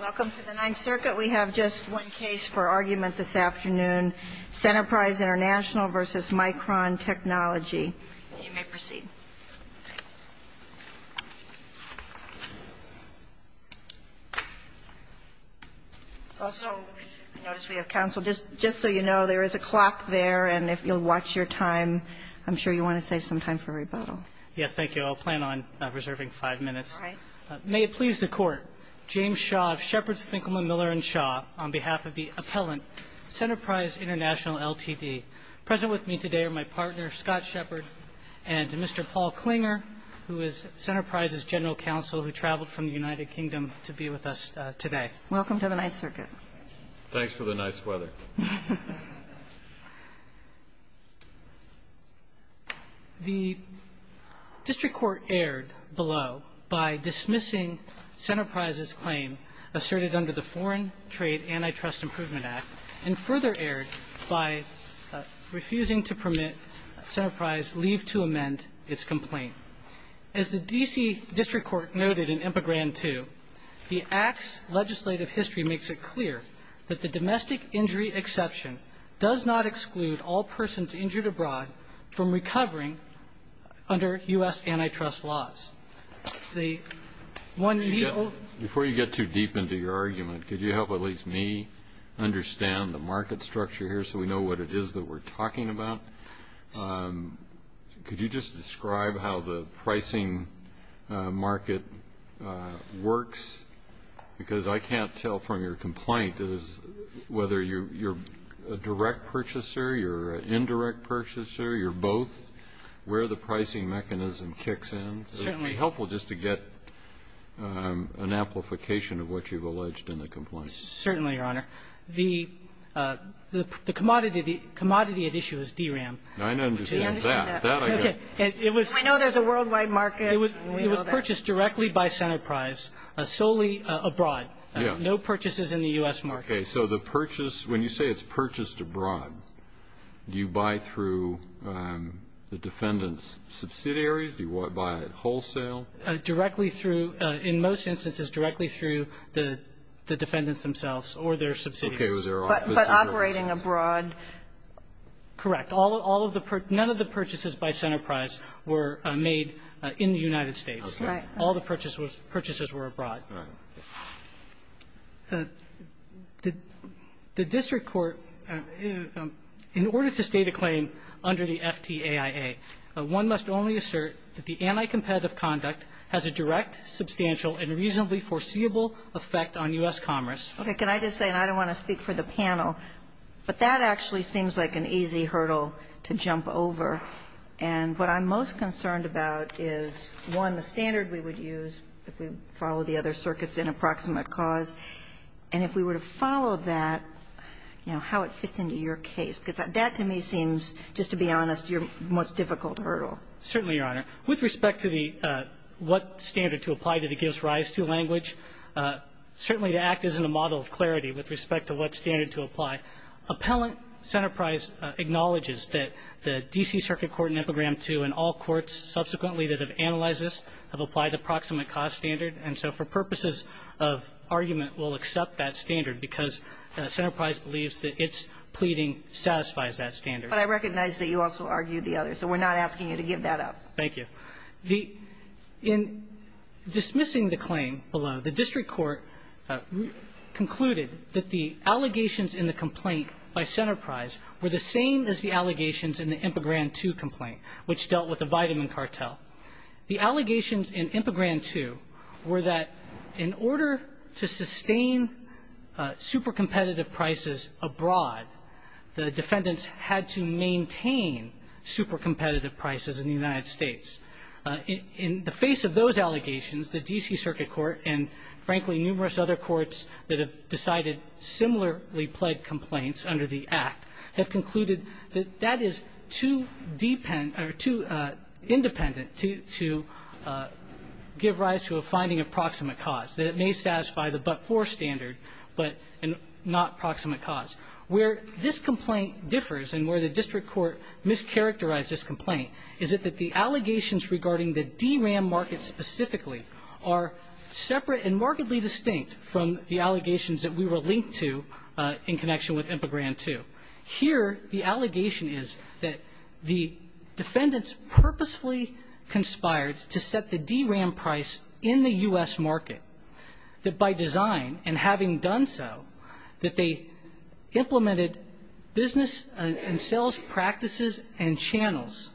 Welcome to the Ninth Circuit. We have just one case for argument this afternoon. Centerprise International v. Micron Technology. You may proceed. Also, I notice we have counsel. Just so you know, there is a clock there, and if you'll watch your time, I'm sure you want to save some time for rebuttal. Yes, thank you. I'll plan on preserving five minutes. All right. May it please the Court, James Shaw of Sheppard, Finkelman, Miller & Shaw, on behalf of the appellant, Centerprise International Ltd. Present with me today are my partner, Scott Sheppard, and Mr. Paul Klinger, who is Centerprise's general counsel who traveled from the United Kingdom to be with us today. Welcome to the Ninth Circuit. Thanks for the nice weather. The district court erred below by dismissing Centerprise's claim asserted under the Foreign Trade Antitrust Improvement Act, and further erred by refusing to permit Centerprise leave to amend its complaint. As the D.C. district court noted in IMPA Grant 2, the Act's legislative history makes it clear that the domestic injury exception does not exclude all persons injured abroad from recovering under U.S. antitrust laws. Before you get too deep into your argument, could you help at least me understand the market structure here so we know what it is that we're talking about? Could you just describe how the pricing market works? Because I can't tell from your complaint whether you're a direct purchaser, you're an indirect purchaser, you're both. Where the pricing mechanism kicks in. It would be helpful just to get an amplification of what you've alleged in the complaint. Certainly, Your Honor. The commodity at issue is DRAM. I understand that. We know there's a worldwide market. It was purchased directly by Centerprise, solely abroad. Yes. No purchases in the U.S. market. Okay. So the purchase, when you say it's purchased abroad, do you buy through the defendant's subsidiaries? Do you buy it wholesale? No. Directly through, in most instances, directly through the defendants themselves or their subsidiaries. Okay. But operating abroad? Correct. None of the purchases by Centerprise were made in the United States. Right. All the purchases were abroad. Right. The district court, in order to state a claim under the FTAIA, one must only assert that the anti-competitive conduct has a direct, substantial, and reasonably foreseeable effect on U.S. commerce. Okay. Can I just say, and I don't want to speak for the panel, but that actually seems like an easy hurdle to jump over. And what I'm most concerned about is, one, the standard we would use if we follow the other circuits in approximate cause, and if we were to follow that, you know, how it fits into your case, because that to me seems, just to be honest, your most difficult hurdle. Certainly, Your Honor. With respect to the what standard to apply to the gives rise to language, certainly the Act isn't a model of clarity with respect to what standard to apply. Appellant Centerprise acknowledges that the D.C. Circuit Court in Epigram 2 and all courts subsequently that have analyzed this have applied the approximate cause standard, and so for purposes of argument, we'll accept that standard because Centerprise believes that its pleading satisfies that standard. But I recognize that you also argued the other. So we're not asking you to give that up. Thank you. In dismissing the claim below, the district court concluded that the allegations in the complaint by Centerprise were the same as the allegations in the Epigram 2 complaint, which dealt with the vitamin cartel. The allegations in Epigram 2 were that in order to sustain super competitive prices abroad, the defendants had to maintain super competitive prices in the United States. In the face of those allegations, the D.C. Circuit Court and, frankly, numerous other courts that have decided similarly pledged complaints under the Act have concluded that that is too independent to give rise to a finding approximate cause, that it may satisfy the but-for standard, but not approximate cause. Where this complaint differs and where the district court mischaracterized this complaint is that the allegations regarding the DRAM market specifically are separate and markedly distinct from the allegations that we were linked to in connection with Epigram 2. Here the allegation is that the defendants purposefully conspired to set the DRAM price in the U.S. market, that by design and having done so, that they implemented business and sales practices and channels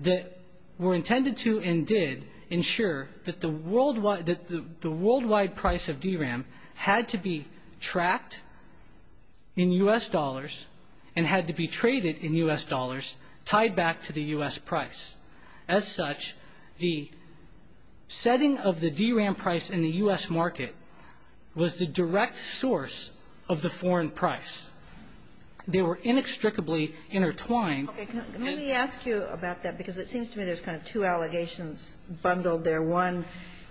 that were intended to and did ensure that the worldwide price of DRAM had to be tracked in U.S. dollars and had to be traded in U.S. dollars tied back to the U.S. price. As such, the setting of the DRAM price in the U.S. market was the direct source of the foreign price. They were inextricably intertwined. Okay. Let me ask you about that, because it seems to me there's kind of two allegations bundled there. One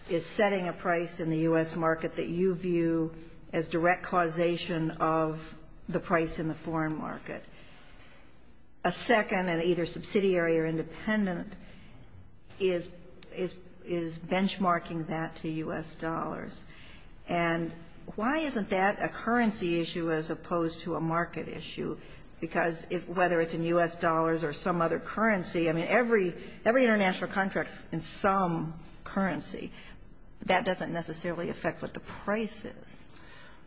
is setting a price in the U.S. market that you view as direct causation of the price in the foreign market. A second, and either subsidiary or independent, is benchmarking that to U.S. dollars. And why isn't that a currency issue as opposed to a market issue? Because whether it's in U.S. dollars or some other currency, I mean, every international contract is in some currency. That doesn't necessarily affect what the price is.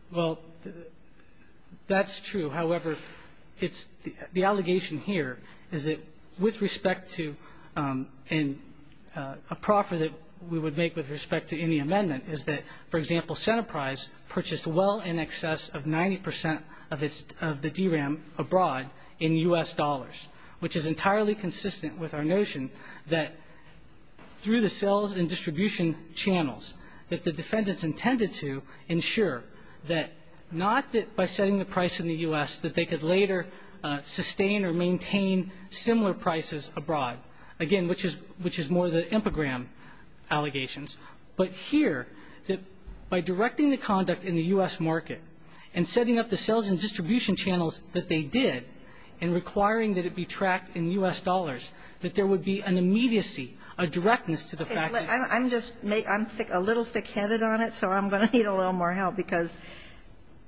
Well, that's true. However, the allegation here is that with respect to a proffer that we would make with respect to any amendment is that, for example, Centerprise purchased well in excess of 90 percent of the DRAM abroad in U.S. dollars, which is entirely consistent with our notion that through the sales and distribution channels that the defendants intended to ensure that not by setting the price in the U.S. that they could later sustain or maintain similar prices abroad, again, which is more the IMPOGRAM allegations, but here that by directing the conduct in the U.S. market and setting up the sales and distribution channels that they did and requiring that it be tracked in U.S. dollars, that there would be an immediacy, a directness to the fact that they need a little more help because,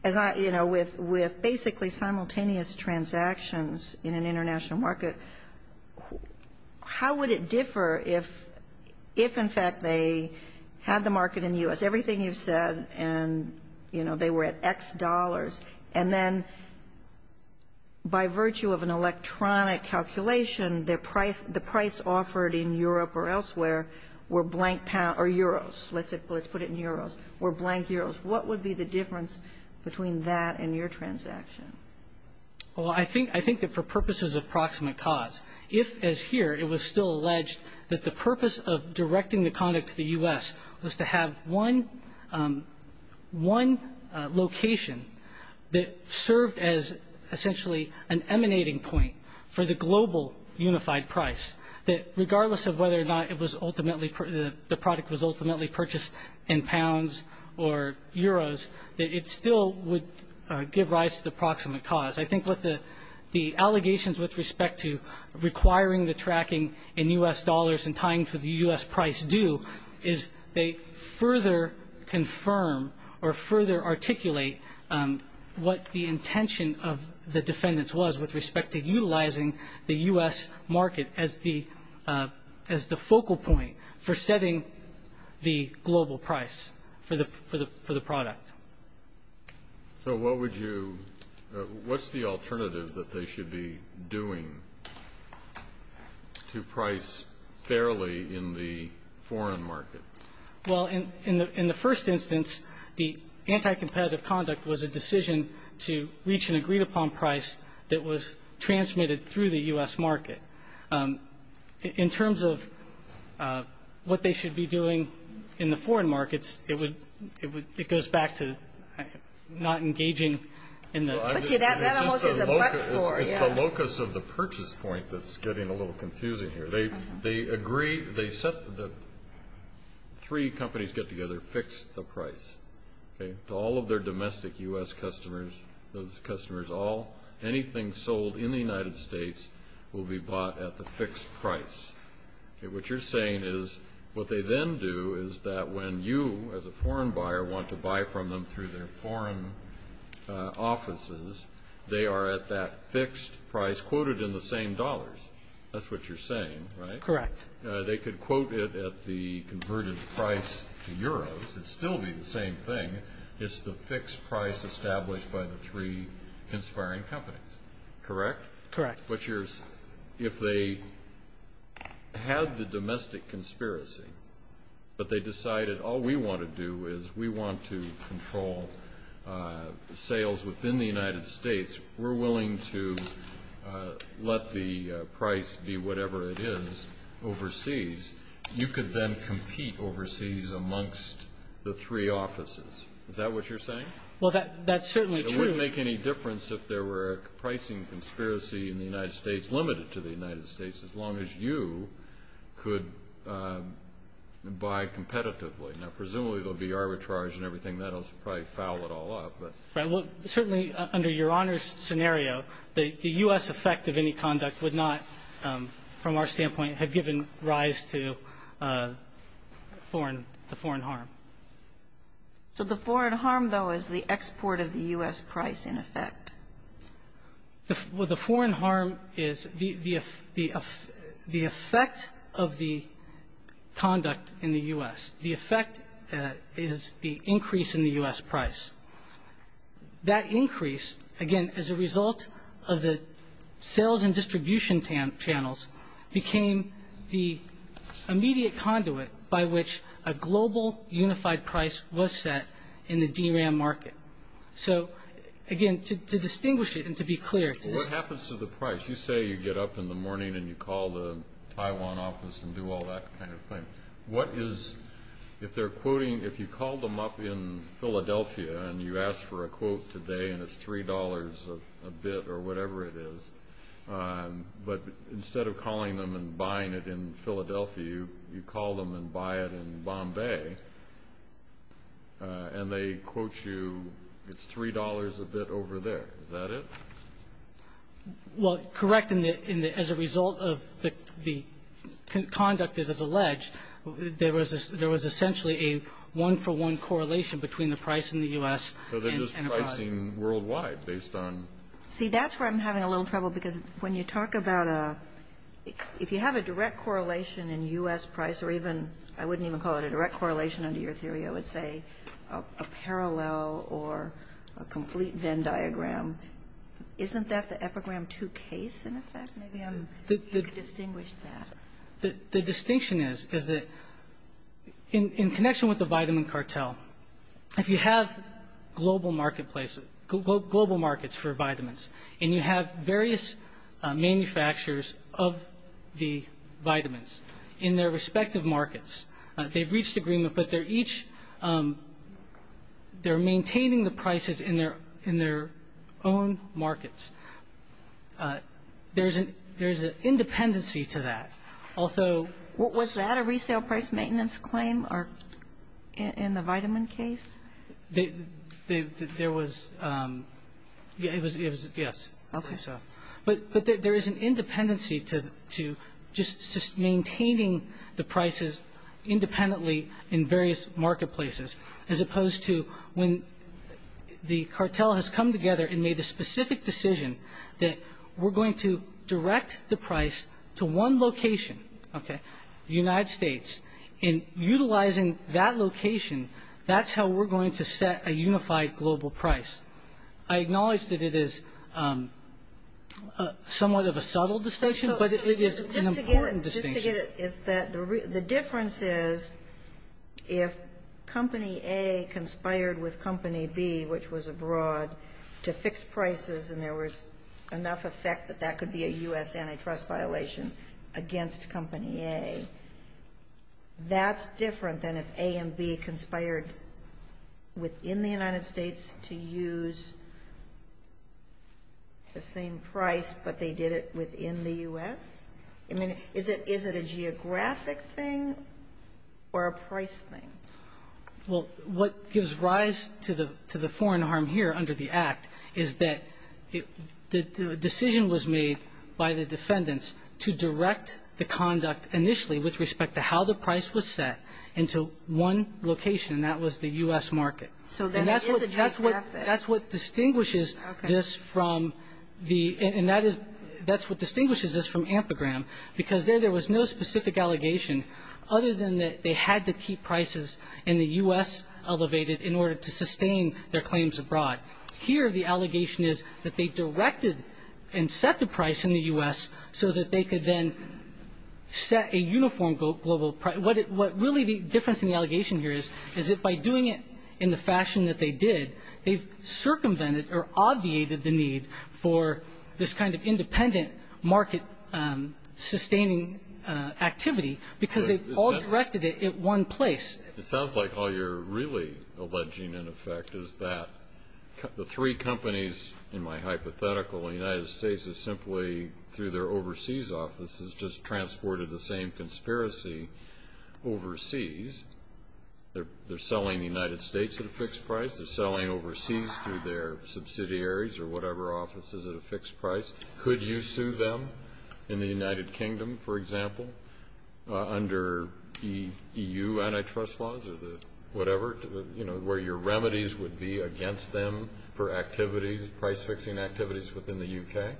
you know, with basically simultaneous transactions in an international market, how would it differ if, in fact, they had the market in the U.S., everything you've said, and, you know, they were at X dollars, and then by virtue of an electronic calculation, the price offered in Europe or elsewhere were blank or euros. Let's put it in euros, were blank euros. What would be the difference between that and your transaction? Well, I think that for purposes of proximate cause, if, as here, it was still alleged that the purpose of directing the conduct to the U.S. was to have one location that served as essentially an emanating point for the global unified price, that regardless of whether or not it was ultimately the product was ultimately purchased in pounds or euros, that it still would give rise to the proximate cause. I think what the allegations with respect to requiring the tracking in U.S. dollars and tying to the U.S. price do is they further confirm or further articulate what the intention of the defendants was with respect to utilizing the U.S. market as the focal point for setting the global price for the product. So what would you – what's the alternative that they should be doing to price fairly in the foreign market? Well, in the first instance, the anti-competitive conduct was a decision to reach an agreed-upon price that was transmitted through the U.S. market. In terms of what they should be doing in the foreign markets, it goes back to not engaging in the – That almost is a but-for. It's the locus of the purchase point that's getting a little confusing here. They agree – the three companies get together, fix the price. To all of their domestic U.S. customers, those customers, anything sold in the United States will be bought at the fixed price. What you're saying is what they then do is that when you, as a foreign buyer, want to buy from them through their foreign offices, they are at that fixed price quoted in the same dollars. That's what you're saying, right? Correct. They could quote it at the converted price to euros. It would still be the same thing. It's the fixed price established by the three conspiring companies. Correct? Correct. Butchers, if they had the domestic conspiracy, but they decided, all we want to do is we want to control sales within the United States, we're willing to let the price be whatever it is overseas, you could then compete overseas amongst the three offices. Is that what you're saying? Well, that's certainly true. It wouldn't make any difference if there were a pricing conspiracy in the United States, limited to the United States, as long as you could buy competitively. Now, presumably there will be arbitrage and everything. That will probably foul it all up. Well, certainly under Your Honor's scenario, the U.S. effect of any conduct would not, from our standpoint, have given rise to foreign harm. So the foreign harm, though, is the export of the U.S. price in effect. Well, the foreign harm is the effect of the conduct in the U.S. The effect is the increase in the U.S. price. That increase, again, as a result of the sales and distribution channels became the immediate conduit by which a global unified price was set in the DRAM market. So, again, to distinguish it and to be clear. What happens to the price? You say you get up in the morning and you call the Taiwan office and do all that kind of thing. What is, if they're quoting, if you call them up in Philadelphia and you ask for a quote today and it's $3 a bit or whatever it is, but instead of calling them and buying it in Philadelphia, you call them and buy it in Bombay and they quote you it's $3 a bit over there. Is that it? Well, correct. As a result of the conduct that is alleged, there was essentially a one-for-one correlation between the price in the U.S. So they're just pricing worldwide based on See, that's where I'm having a little trouble because when you talk about a if you have a direct correlation in U.S. price or even I wouldn't even call it a direct correlation under your theory, I would say a parallel or a complete Venn diagram, isn't that the epigram two case in effect? Maybe you could distinguish that. The distinction is that in connection with the vitamin cartel, if you have global marketplaces, global markets for vitamins and you have various manufacturers of the vitamins in their respective markets, they've reached agreement, but they're maintaining the prices in their own markets. There's an independency to that. Although Was that a resale price maintenance claim in the vitamin case? There was. It was, yes. Okay. But there is an independency to just maintaining the prices independently in various marketplaces as opposed to when the cartel has come together and made a specific decision that we're going to direct the price to one location, the United States, and utilizing that location, that's how we're going to set a unified global price. I acknowledge that it is somewhat of a subtle distinction, but it is an important distinction. The difference is if Company A conspired with Company B, which was abroad, to fix prices and there was enough effect that that could be a U.S. antitrust violation against Company A, that's different than if A and B conspired within the United States to use the same price, but they did it within the U.S.? I mean, is it a geographic thing or a price thing? Well, what gives rise to the foreign harm here under the Act is that the decision was made by the defendants to direct the conduct initially with respect to how the price was set into one location, and that was the U.S. market. So then it is a geographic. That's what distinguishes this from the – and that is – that's what distinguishes this from AMPAGRAM, because there there was no specific allegation other than that they had to keep prices in the U.S. elevated in order to sustain their claims abroad. Here the allegation is that they directed and set the price in the U.S. so that they could then set a uniform global – what really the difference in the allegation here is, is that by doing it in the fashion that they did, they've circumvented or obviated the need for this kind of independent market-sustaining activity because they've all directed it at one place. It sounds like all you're really alleging, in effect, is that the three companies in my hypothetical, the United States has simply, through their overseas offices, just transported the same conspiracy overseas. They're selling the United States at a fixed price. They're selling overseas through their subsidiaries or whatever offices at a fixed price. Could you sue them in the United Kingdom, for example, under EU antitrust laws or whatever, where your remedies would be against them for activities, price-fixing activities within the U.K.?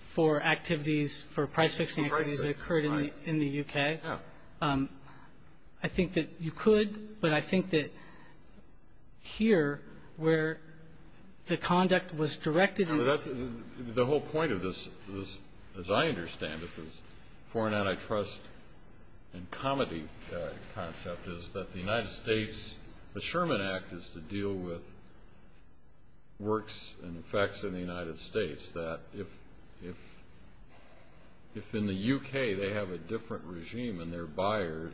For activities, for price-fixing activities that occurred in the U.K.? Yeah. I think that you could, but I think that here, where the conduct was directed – The whole point of this, as I understand it, this foreign antitrust and comedy concept is that the United States, the Sherman Act is to deal with works and effects in the United States that, if in the U.K. they have a different regime and they're buyers,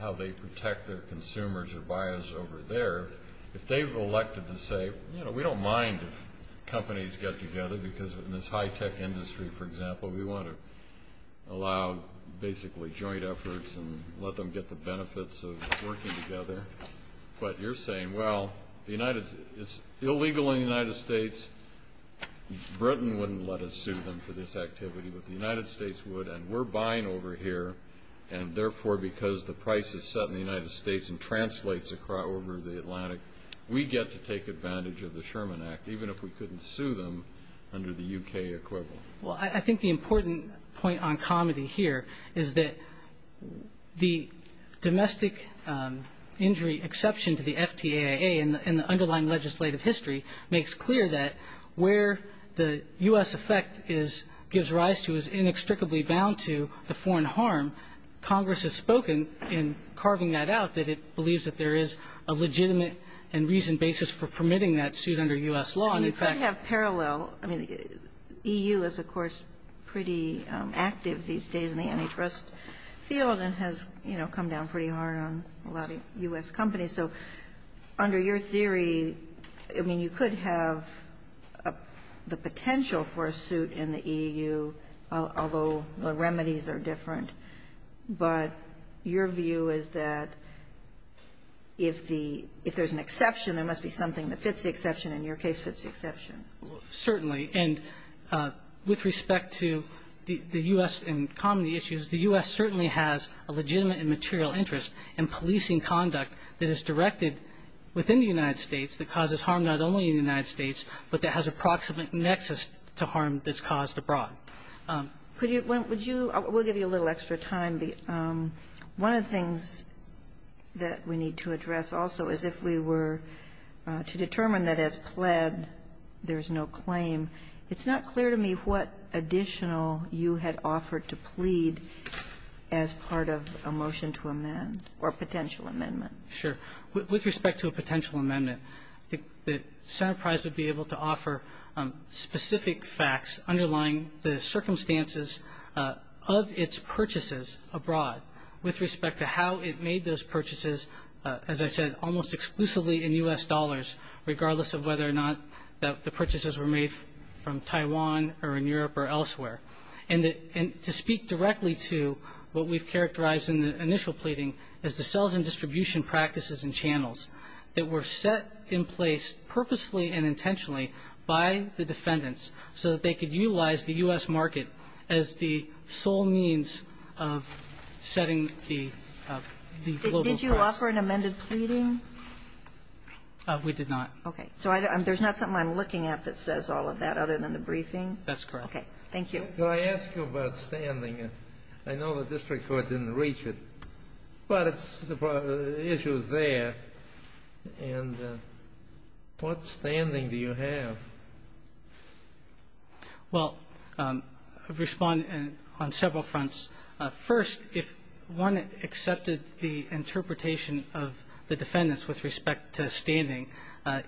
how they protect their consumers or buyers over there, if they've elected to say, you know, we don't mind if companies get together because in this high-tech industry, for example, we want to allow, basically, joint efforts and let them get the benefits of working together. But you're saying, well, it's illegal in the United States. Britain wouldn't let us sue them for this activity, but the United States would, and we're buying over here, and therefore, because the price is set in the United States and translates over the Atlantic, we get to take advantage of the Sherman Act, even if we couldn't sue them under the U.K. equivalent. Well, I think the important point on comedy here is that the domestic injury exception to the FTAIA in the underlying legislative history makes clear that where the U.S. effect is, gives rise to, is inextricably bound to the foreign harm. Congress has spoken in carving that out, that it believes that there is a legitimate and reasoned basis for permitting that suit under U.S. law. And in fact you could have parallel, I mean, EU is, of course, pretty active these days in the antitrust field and has, you know, come down pretty hard on a lot of U.S. companies. So under your theory, I mean, you could have the potential for a suit in the EU, although the remedies are different. But your view is that if the, if there's an exception, there must be something that fits the exception, and your case fits the exception. Certainly. And with respect to the U.S. and comedy issues, the U.S. certainly has a legitimate and material interest in policing conduct that is directed within the United States that causes harm not only in the United States, but that has approximate nexus to harm that's caused abroad. Could you, would you, we'll give you a little extra time. Kagan. One of the things that we need to address also is if we were to determine that as pled, there's no claim, it's not clear to me what additional you had offered to plead as part of a motion to amend or potential amendment. Sure. With respect to a potential amendment, I think that Senate Price would be able to with respect to how it made those purchases, as I said, almost exclusively in U.S. dollars, regardless of whether or not the purchases were made from Taiwan or in Europe or elsewhere. And to speak directly to what we've characterized in the initial pleading is the sales and distribution practices and channels that were set in place purposefully and intentionally by the defendants so that they could utilize the U.S. market as the sole means of setting the global price. Did you offer an amended pleading? We did not. Okay. So there's not something I'm looking at that says all of that other than the briefing? That's correct. Okay. Thank you. Could I ask you about standing? I know the district court didn't reach it, but it's the issue is there. And what standing do you have? Well, I've responded on several fronts. First, if one accepted the interpretation of the defendants with respect to standing,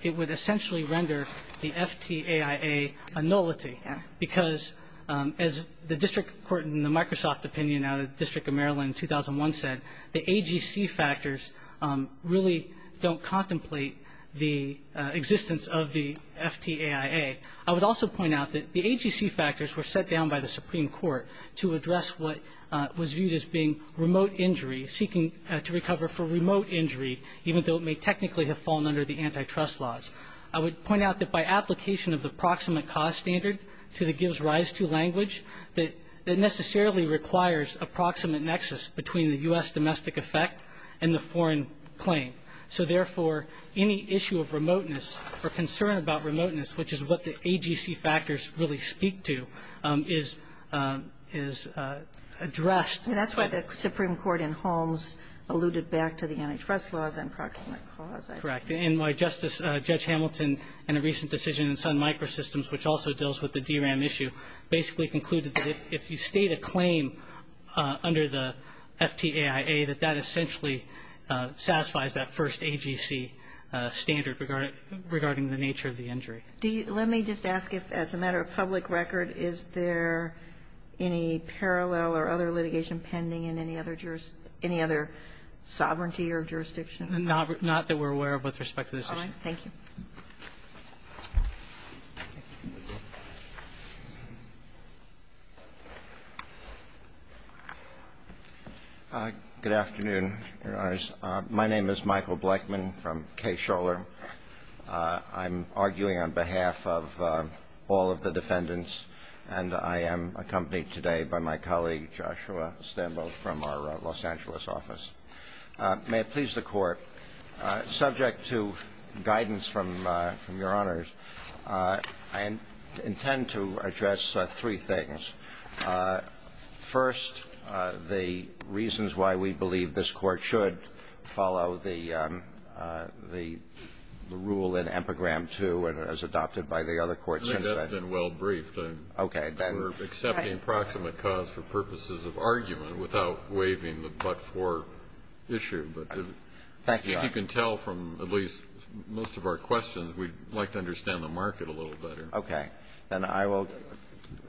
it would essentially render the FTAIA a nullity because, as the district court in the Microsoft opinion out of the District of Maryland in 2001 said, the AGC factors really don't contemplate the existence of the FTAIA. I would also point out that the AGC factors were set down by the Supreme Court to address what was viewed as being remote injury, seeking to recover for remote injury, even though it may technically have fallen under the antitrust laws. I would point out that by application of the proximate cost standard to the gives rise to language, that necessarily requires a proximate nexus between the U.S. domestic effect and the foreign claim. So, therefore, any issue of remoteness or concern about remoteness, which is what the AGC factors really speak to, is addressed. That's why the Supreme Court in Holmes alluded back to the antitrust laws and proximate cause, I believe. Correct. And why Justice Judge Hamilton in a recent decision in Sun Microsystems, which also deals with the DRAM issue, basically concluded that if you state a claim under the FTAIA, that that essentially satisfies that first AGC standard regarding the nature of the injury. Let me just ask if, as a matter of public record, is there any parallel or other litigation pending in any other jurisdiction, any other sovereignty or jurisdiction? Not that we're aware of with respect to this. All right. Thank you. Good afternoon, Your Honors. My name is Michael Blechman from Kaye-Scholer. I'm arguing on behalf of all of the defendants, and I am accompanied today by my colleague, Joshua Istanbul, from our Los Angeles office. May it please the Court. Subject to guidance from Your Honors, I intend to address three things. First, the reasons why we believe this Court should follow the rule in Epigram II as adopted by the other courts. I think that's been well briefed. Okay. We're accepting proximate cause for purposes of argument without waiving the but-for issue, but if you can tell from at least most of our questions, we'd like to understand the market a little better. Okay. Then I will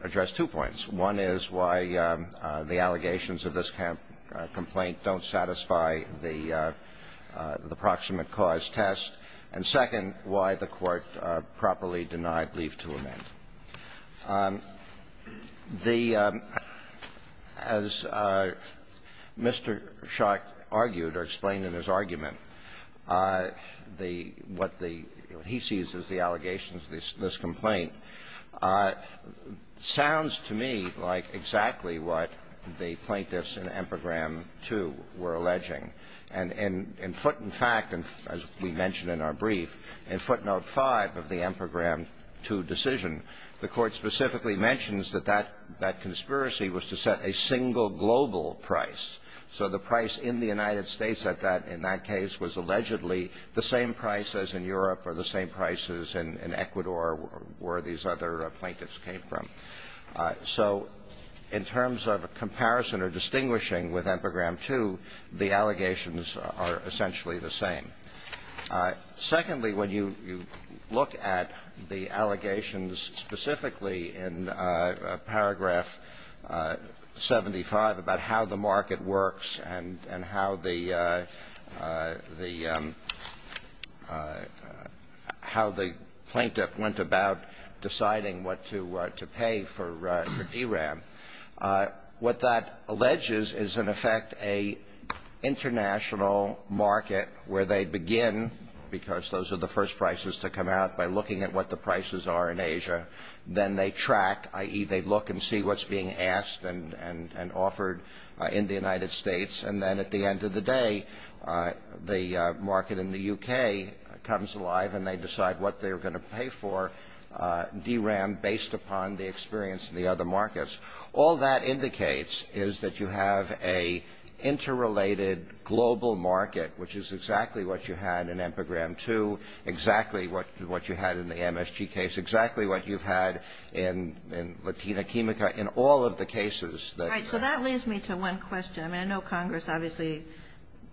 address two points. One is why the allegations of this kind of complaint don't satisfy the proximate cause test, and second, why the Court properly denied leave to amend. The — as Mr. Schott argued or explained in his argument, the — what the — he sees as the allegations of this complaint sounds to me like exactly what the plaintiffs in Epigram II were alleging, and in footnote 5, as we mentioned in our brief, in footnote 5 of the Epigram II decision, the Court specifically mentions that that conspiracy was to set a single global price. So the price in the United States at that — in that case was allegedly the same price as in Europe or the same price as in Ecuador, where these other plaintiffs came from. So in terms of comparison or distinguishing with Epigram II, the allegations are essentially the same. Secondly, when you look at the allegations specifically in paragraph 75 about how the market works and how the — how the plaintiff went about deciding what to pay for DRAM, what that alleges is, in effect, a international market where they begin, because those are the first prices to come out, by looking at what the prices are in Asia. Then they track, i.e., they look and see what's being asked and — and offered in the United States. And then at the end of the day, the market in the U.K. comes alive and they decide what they're going to pay for DRAM based upon the experience in the other markets. All that indicates is that you have a interrelated global market, which is exactly what you had in Epigram II, exactly what you had in the MSG case, exactly what you've had in Latina Quimica, in all of the cases that you've had. Right. So that leads me to one question. I mean, I know Congress obviously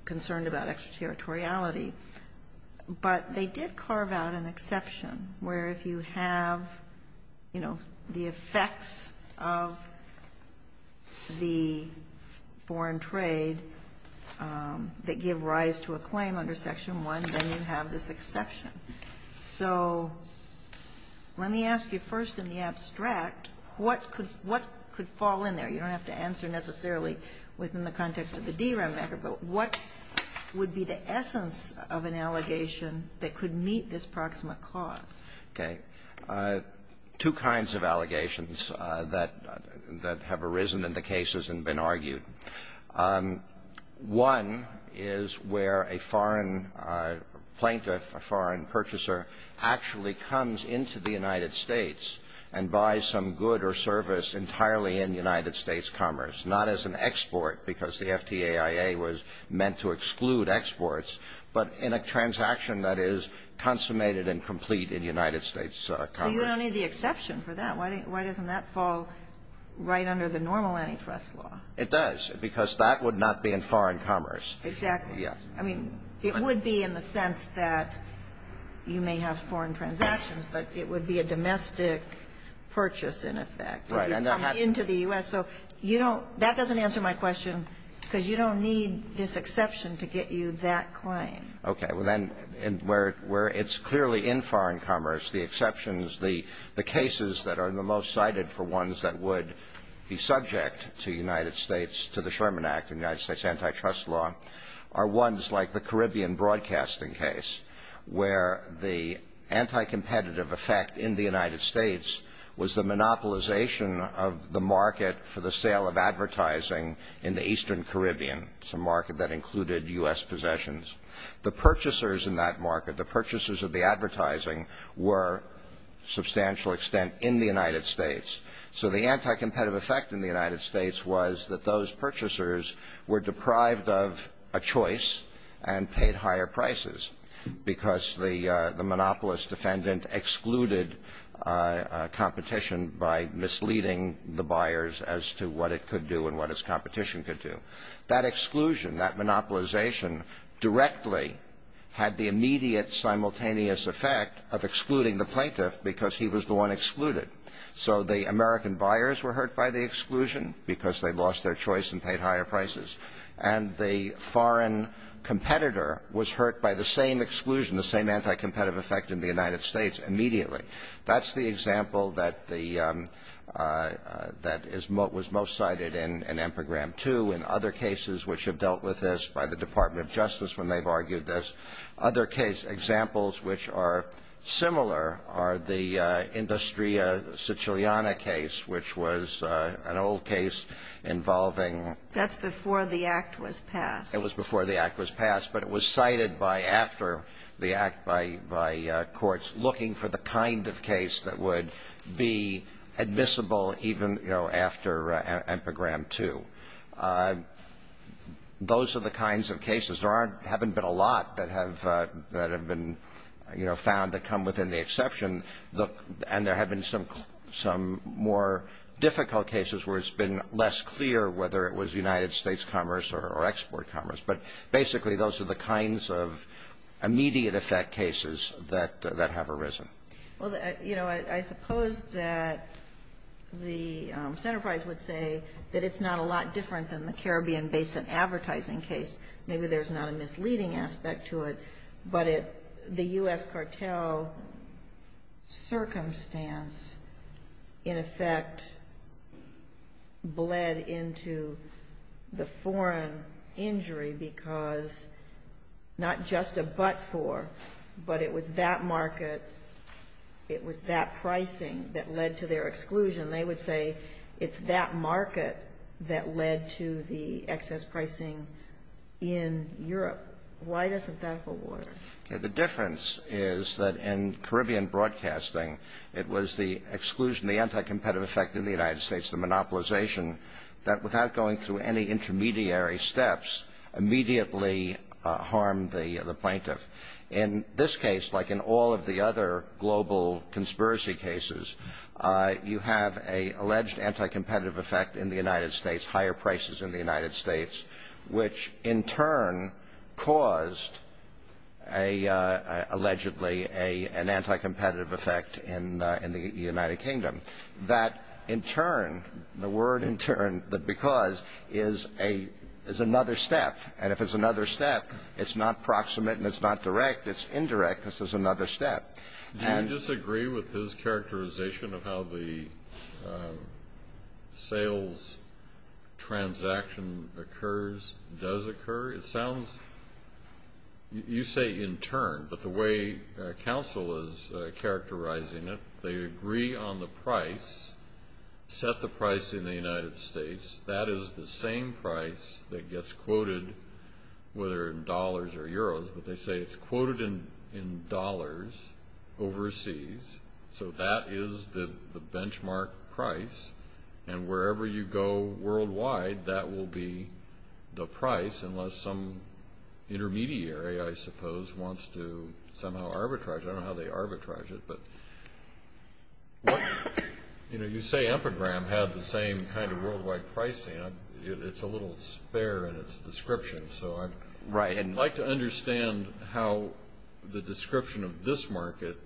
concerned about extraterritoriality, but they did carve out an exception where if you have, you know, the effects of the foreign trade that give rise to a claim under Section 1, then you have this exception. So let me ask you first in the abstract, what could — what could fall in there? You don't have to answer necessarily within the context of the DRAM matter, but what would be the essence of an allegation that could meet this proximate cause? Okay. Two kinds of allegations that — that have arisen in the cases and been argued. One is where a foreign plaintiff, a foreign purchaser, actually comes into the United States and buys some good or service entirely in United States commerce, not as an export because the FTAIA was meant to exclude exports, but in a transaction that is consummated and complete in United States commerce. So you don't need the exception for that. Why doesn't that fall right under the normal antitrust law? It does, because that would not be in foreign commerce. Exactly. Yes. I mean, it would be in the sense that you may have foreign transactions, but it would be a domestic purchase, in effect, if you come into the U.S. So you don't — that doesn't answer my question, because you don't need this exception to get you that claim. Okay. Well, then, where it's clearly in foreign commerce, the exceptions, the cases that are the most cited for ones that would be subject to United States — to the Sherman Act and United States antitrust law are ones like the Caribbean broadcasting case, where the anticompetitive effect in the United States was the monopolization of the market for the sale of advertising in the eastern Caribbean. It's a market that included U.S. possessions. The purchasers in that market, the purchasers of the advertising, were, to a substantial extent, in the United States. So the anticompetitive effect in the United States was that those purchasers were deprived of a choice and paid higher prices because the monopolist defendant excluded competition by misleading the buyers as to what it could do and what its competition could do. That exclusion, that monopolization, directly had the immediate simultaneous effect of excluding the plaintiff because he was the one excluded. So the American buyers were hurt by the exclusion because they lost their choice and paid higher prices. And the foreign competitor was hurt by the same exclusion, the same anticompetitive effect in the United States, immediately. That's the example that the — that is — was most cited in Empergram 2 and other cases which have dealt with this by the Department of Justice when they've argued this. Other case examples which are similar are the Industria Siciliana case, which was an old case involving — That's before the Act was passed. It was before the Act was passed. But it was cited by — after the Act by courts looking for the kind of case that would be admissible even, you know, after Empergram 2. Those are the kinds of cases. There aren't — haven't been a lot that have — that have been, you know, found that come within the exception. And there have been some more difficult cases where it's been less clear whether it was United States commerce or export commerce. But basically, those are the kinds of immediate effect cases that have arisen. Well, you know, I suppose that the Centerprise would say that it's not a lot different than the Caribbean Basin advertising case. Maybe there's not a misleading aspect to it. But the U.S. cartel circumstance, in effect, bled into the foreign injury because not just a but for, but it was that market, it was that pricing that led to their exclusion. They would say it's that market that led to the excess pricing in Europe. Why doesn't that hold water? Okay. The difference is that in Caribbean broadcasting, it was the exclusion, the anticompetitive effect in the United States, the monopolization, that without going through any intermediary steps, immediately harmed the plaintiff. In this case, like in all of the other global conspiracy cases, you have an alleged anticompetitive effect in the United States, higher prices in the United States, which in turn caused allegedly an anticompetitive effect in the United Kingdom. That in turn, the word in turn, the because, is another step. And if it's another step, it's not proximate and it's not direct. It's indirect. This is another step. Do you disagree with his characterization of how the sales transaction occurs, does occur? It sounds, you say in turn, but the way counsel is characterizing it, they agree on the price, set the price in the United States, that is the same price that gets quoted whether in dollars overseas. So, that is the benchmark price. And wherever you go worldwide, that will be the price unless some intermediary, I suppose, wants to somehow arbitrage. I don't know how they arbitrage it. But, you know, you say Epigram had the same kind of worldwide pricing. It's a little spare in its description. So, I'd like to understand how the description of this market,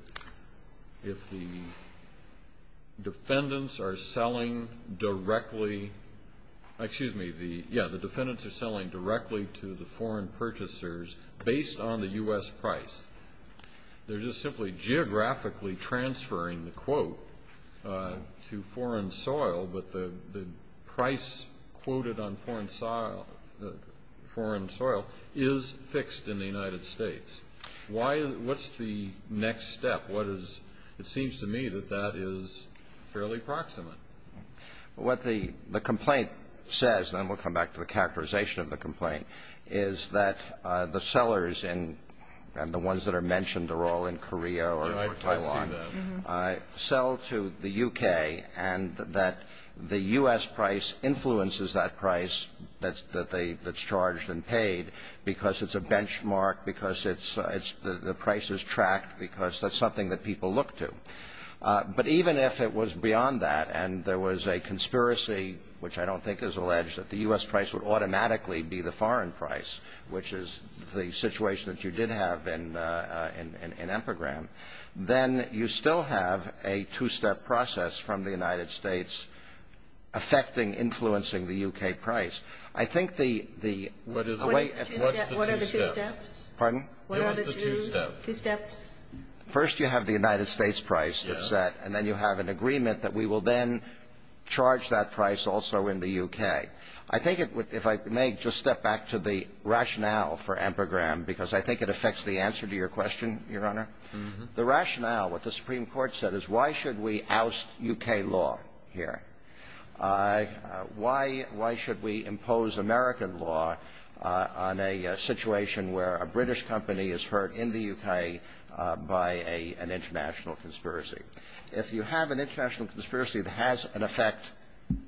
if the defendants are selling directly, excuse me, yeah, the defendants are selling directly to the foreign purchasers based on the U.S. price. They're just simply geographically transferring the quote to foreign soil, but the price quoted on foreign soil is fixed in the United States. Why, what's the next step? What is, it seems to me that that is fairly proximate. What the complaint says, and then we'll come back to the characterization of the complaint, is that the sellers and the ones that are mentioned are all in Korea or Taiwan, sell to the U.K. and that the U.S. price influences that price that's charged and paid because it's a benchmark, because the price is tracked, because that's something that people look to. But even if it was beyond that and there was a conspiracy, which I don't think is alleged, that the U.S. price would automatically be the foreign price, which is the situation that you did have in Empergram, then you still have a two-step process from the United States affecting, influencing the U.K. price. I think the way- What are the two steps? Pardon? What are the two steps? First, you have the United States price that's set, and then you have an agreement that we will then charge that price also in the U.K. I think it would, if I may, just step back to the rationale for Empergram, because I think it affects the answer to your question, Your Honor. The rationale, what the Supreme Court said, is why should we oust U.K. law here? Why should we impose American law on a situation where a British company is hurt in the U.K. by an international conspiracy? If you have an international conspiracy that has an effect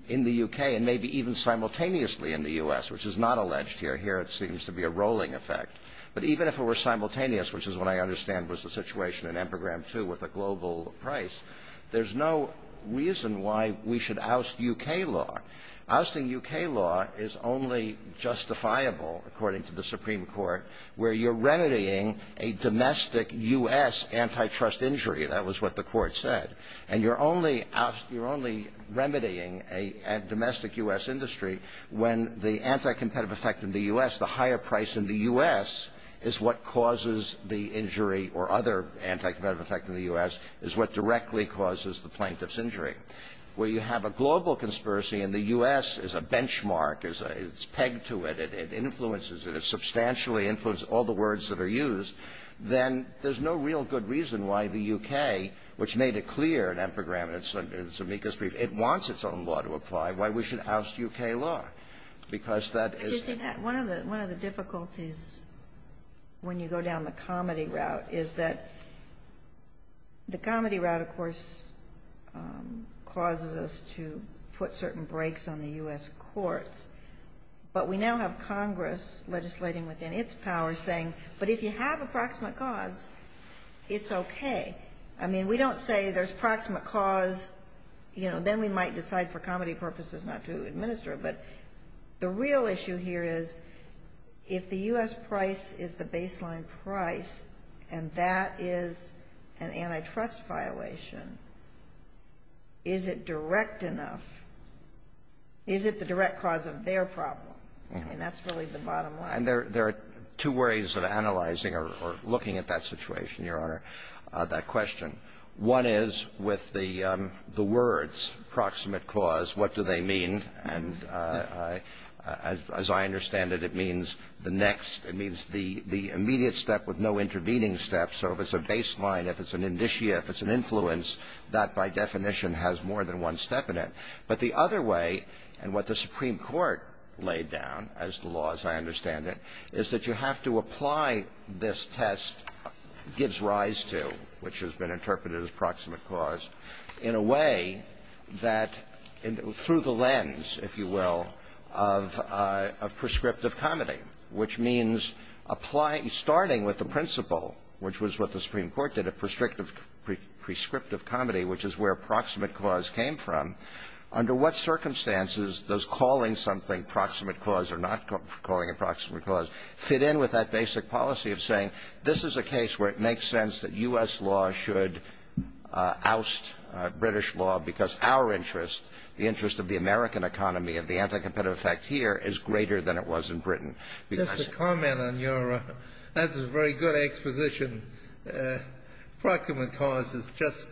in the U.K. and maybe even simultaneously in the U.S., which is not alleged here. Here it seems to be a rolling effect. But even if it were simultaneous, which is what I understand was the situation in Empergram, too, with a global price, there's no reason why we should oust U.K. law. Ousting U.K. law is only justifiable, according to the Supreme Court, where you're remedying a domestic U.S. antitrust injury. That was what the court said. And you're only remedying a domestic U.S. industry when the anticompetitive effect in the U.S., the higher price in the U.S. is what causes the injury or other anticompetitive effect in the U.S. is what directly causes the plaintiff's injury. Where you have a global conspiracy and the U.S. is a benchmark, it's pegged to it, it influences it, it substantially influences all the words that are used, then there's no real good reason why the U.K., which made it clear in Empergram and in Zemeckis' brief, it wants its own law to apply, why we should oust U.K. law. Because that is the question. Ginsburg. One of the difficulties when you go down the comedy route is that the comedy route, of course, causes us to put certain brakes on the U.S. courts. But we now have Congress legislating within its powers saying, but if you have a proximate cause, it's okay. I mean, we don't say there's proximate cause, you know, then we might decide for comedy purposes not to administer it. But the real issue here is if the U.S. price is the baseline price and that is an antitrust violation, is it direct enough, is it the direct cause of their problem? I mean, that's really the bottom line. And there are two ways of analyzing or looking at that situation, Your Honor, that question. One is with the words proximate cause, what do they mean? And as I understand it, it means the next, it means the immediate step with no intervening steps. So if it's a baseline, if it's an initia, if it's an influence, that, by definition, has more than one step in it. But the other way, and what the Supreme Court laid down as the laws, I understand it, is that you have to apply this test gives rise to, which has been interpreted as proximate cause, in a way that through the lens, if you will, of prescriptive comedy, which means starting with the principle, which was what the Supreme Court did, a prescriptive comedy, which is where proximate cause came from, under what circumstances does calling something proximate cause or not calling it proximate cause fit in with that basic policy of saying this is a case where it makes sense that U.S. law should oust British law because our interest, the interest of the American economy and the anti-competitive effect here is greater than it was in Britain. Because the comment on your, that's a very good exposition. Proximate cause is just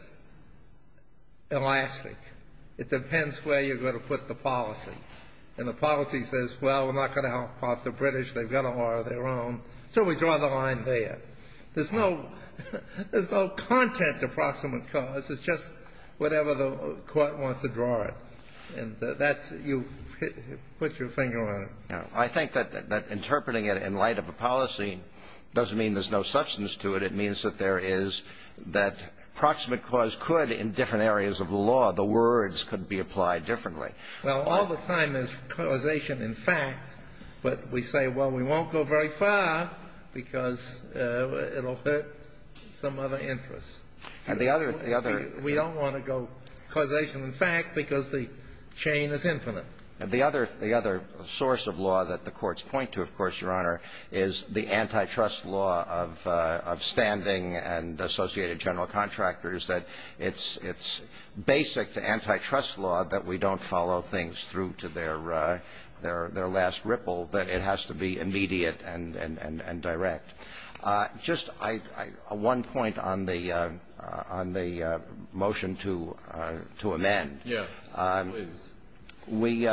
elastic. It depends where you're going to put the policy. And the policy says, well, we're not going to help out the British. They've got to order their own. So we draw the line there. There's no, there's no content to proximate cause. It's just whatever the Court wants to draw it. And that's, you put your finger on it. I think that interpreting it in light of a policy doesn't mean there's no substance to it. It means that there is, that proximate cause could, in different areas of the law, the words could be applied differently. Well, all the time there's causation in fact, but we say, well, we won't go very far because it will hurt some other interests. And the other, the other. We don't want to go causation in fact because the chain is infinite. The other, the other source of law that the courts point to, of course, Your Honor, is the antitrust law of, of standing and associated general contractors, that it's, it's basic to antitrust law that we don't follow things through to their, their, their last ripple, that it has to be immediate and, and, and direct. Just I, I, one point on the, on the motion to, to amend. Yes, please. We,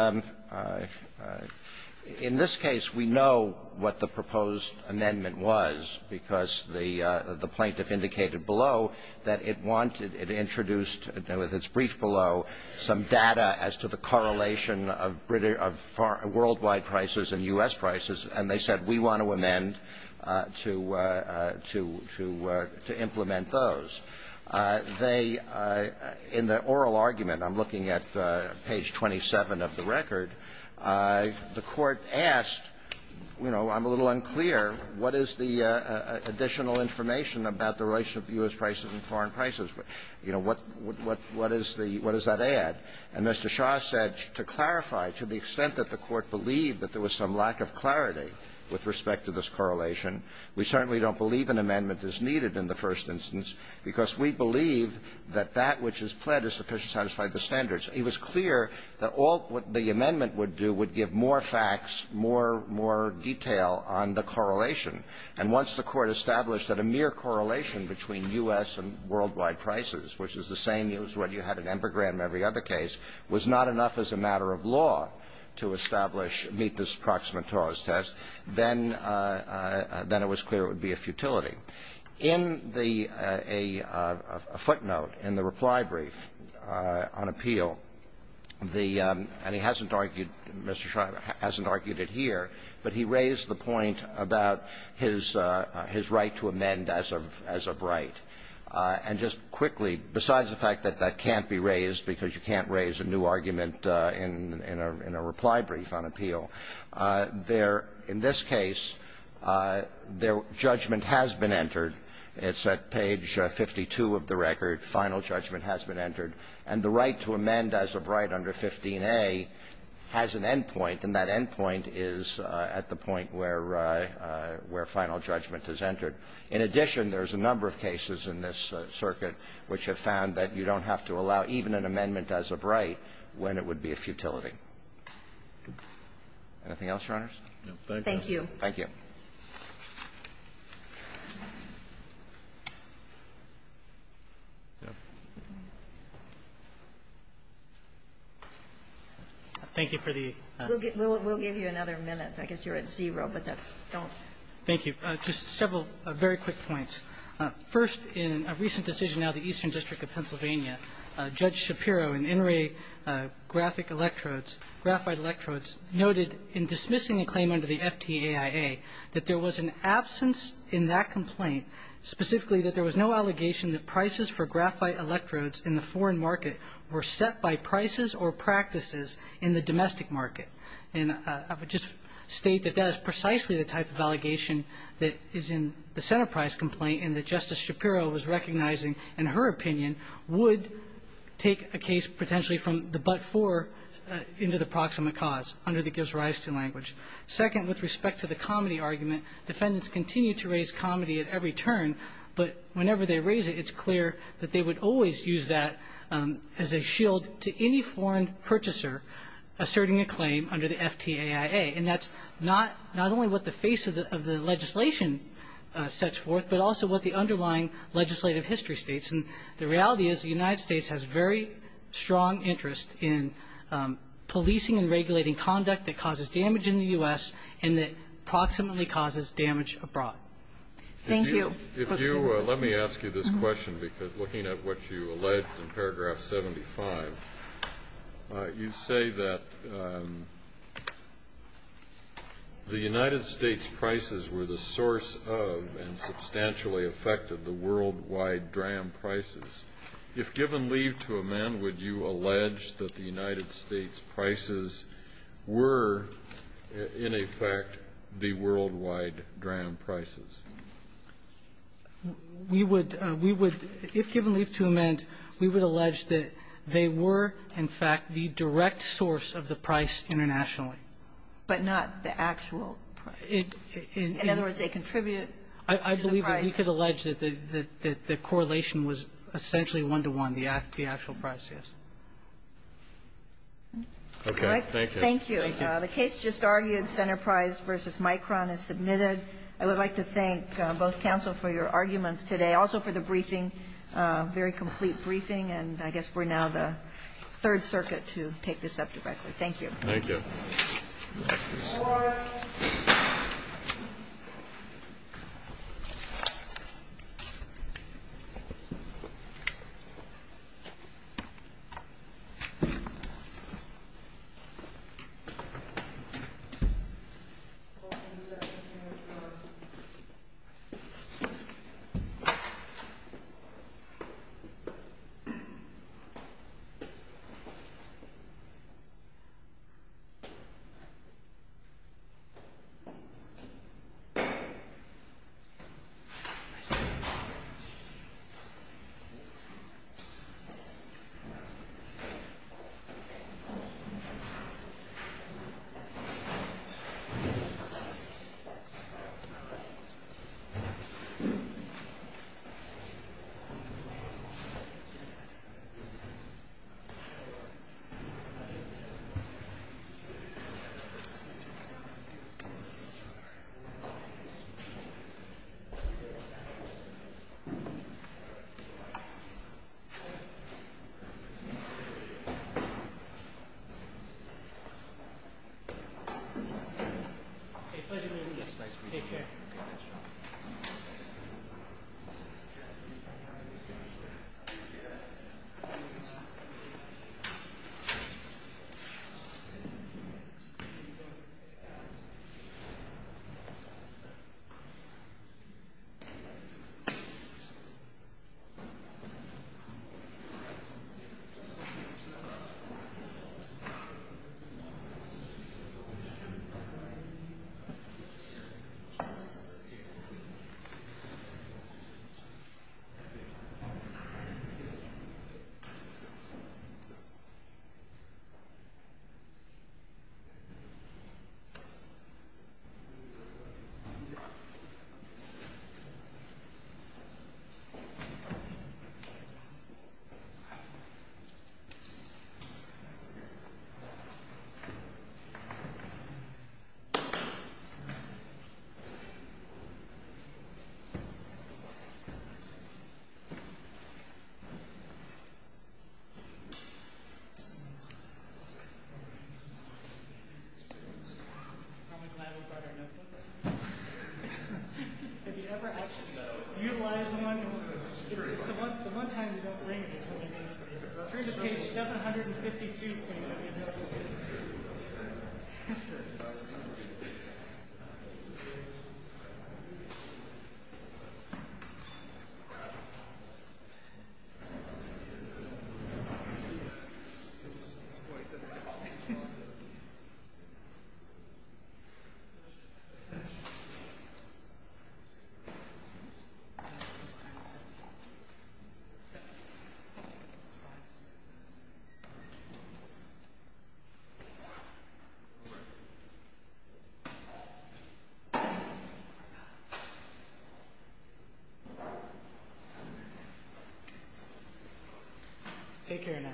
in this case, we know what the proposed amendment was because the, the plaintiff indicated below that it wanted, it introduced, with its brief below, some data as to the correlation of British, of foreign, worldwide prices and U.S. prices, and they said we want to amend to, to, to, to implement those. They, in the oral argument, I'm looking at page 27 of the record, the Court asked, you know, I'm a little unclear, what is the additional information about the relationship of U.S. prices and foreign prices? You know, what, what, what is the, what does that add? And Mr. Shah said, to clarify, to the extent that the Court believed that there was some lack of clarity with respect to this correlation, we certainly don't believe an amendment is needed in the first instance because we believe that that which is pled is sufficient to satisfy the standards. It was clear that all what the amendment would do would give more facts, more, more detail on the correlation. And once the Court established that a mere correlation between U.S. and worldwide prices, which is the same as what you had in Empergrande and every other case, was not enough as a matter of law to establish, meet this Proxima Taurus test, then, then it was clear it would be a futility. In the, a footnote in the reply brief on appeal, the, and he hasn't argued, Mr. Shah hasn't argued it here, but he raised the point about his, his right to amend as of, as of right. And just quickly, besides the fact that that can't be raised because you can't raise a new argument in, in a, in a reply brief on appeal, there, in this case, their judgment has been entered. It's at page 52 of the record. Final judgment has been entered. And the right to amend as of right under 15a has an endpoint, and that endpoint is at the point where, where final judgment is entered. In addition, there's a number of cases in this circuit which have found that you don't have to allow even an amendment as of right when it would be a futility. Anything else, Your Honors? Thank you. Thank you. Thank you for the ---- We'll give, we'll give you another minute. I guess you're at zero, but that's, don't. Thank you. Just several very quick points. First, in a recent decision out of the Eastern District of Pennsylvania, Judge Shapiro in In re Graphic Electrodes, Graphite Electrodes, noted in dismissing a claim under the FTAIA that there was an absence in that complaint specifically that there was no allegation that prices for graphite electrodes in the foreign market were set by prices or practices in the domestic market. And I would just state that that is precisely the type of allegation that is in the center price complaint and that Justice Shapiro was recognizing, in her opinion, would take a case potentially from the but-for into the proximate cause under the proposed rise to language. Second, with respect to the comedy argument, defendants continue to raise comedy at every turn, but whenever they raise it, it's clear that they would always use that as a shield to any foreign purchaser asserting a claim under the FTAIA. And that's not only what the face of the legislation sets forth, but also what the underlying legislative history states. And the reality is the United States has very strong interest in policing and that causes damage in the U.S. and that proximately causes damage abroad. Thank you. If you let me ask you this question, because looking at what you alleged in paragraph 75, you say that the United States prices were the source of and substantially affected the worldwide dram prices. If given leave to amend, would you allege that the United States prices were, in effect, the worldwide dram prices? We would we would, if given leave to amend, we would allege that they were, in fact, the direct source of the price internationally. But not the actual price. In other words, they contribute to the price. We could allege that the correlation was essentially one-to-one, the actual price, yes. Okay. Thank you. Thank you. The case just argued, Centerprise v. Micron, is submitted. I would like to thank both counsel for your arguments today, also for the briefing, very complete briefing, and I guess we're now the Third Circuit to take this up directly. Thank you. All rise. Thank you. Thank you. Thank you. I'm glad we brought our notebooks. Have you ever actually utilized one? It's the one time you don't bring it. Turn to page 752, please. Take care now. Thank you.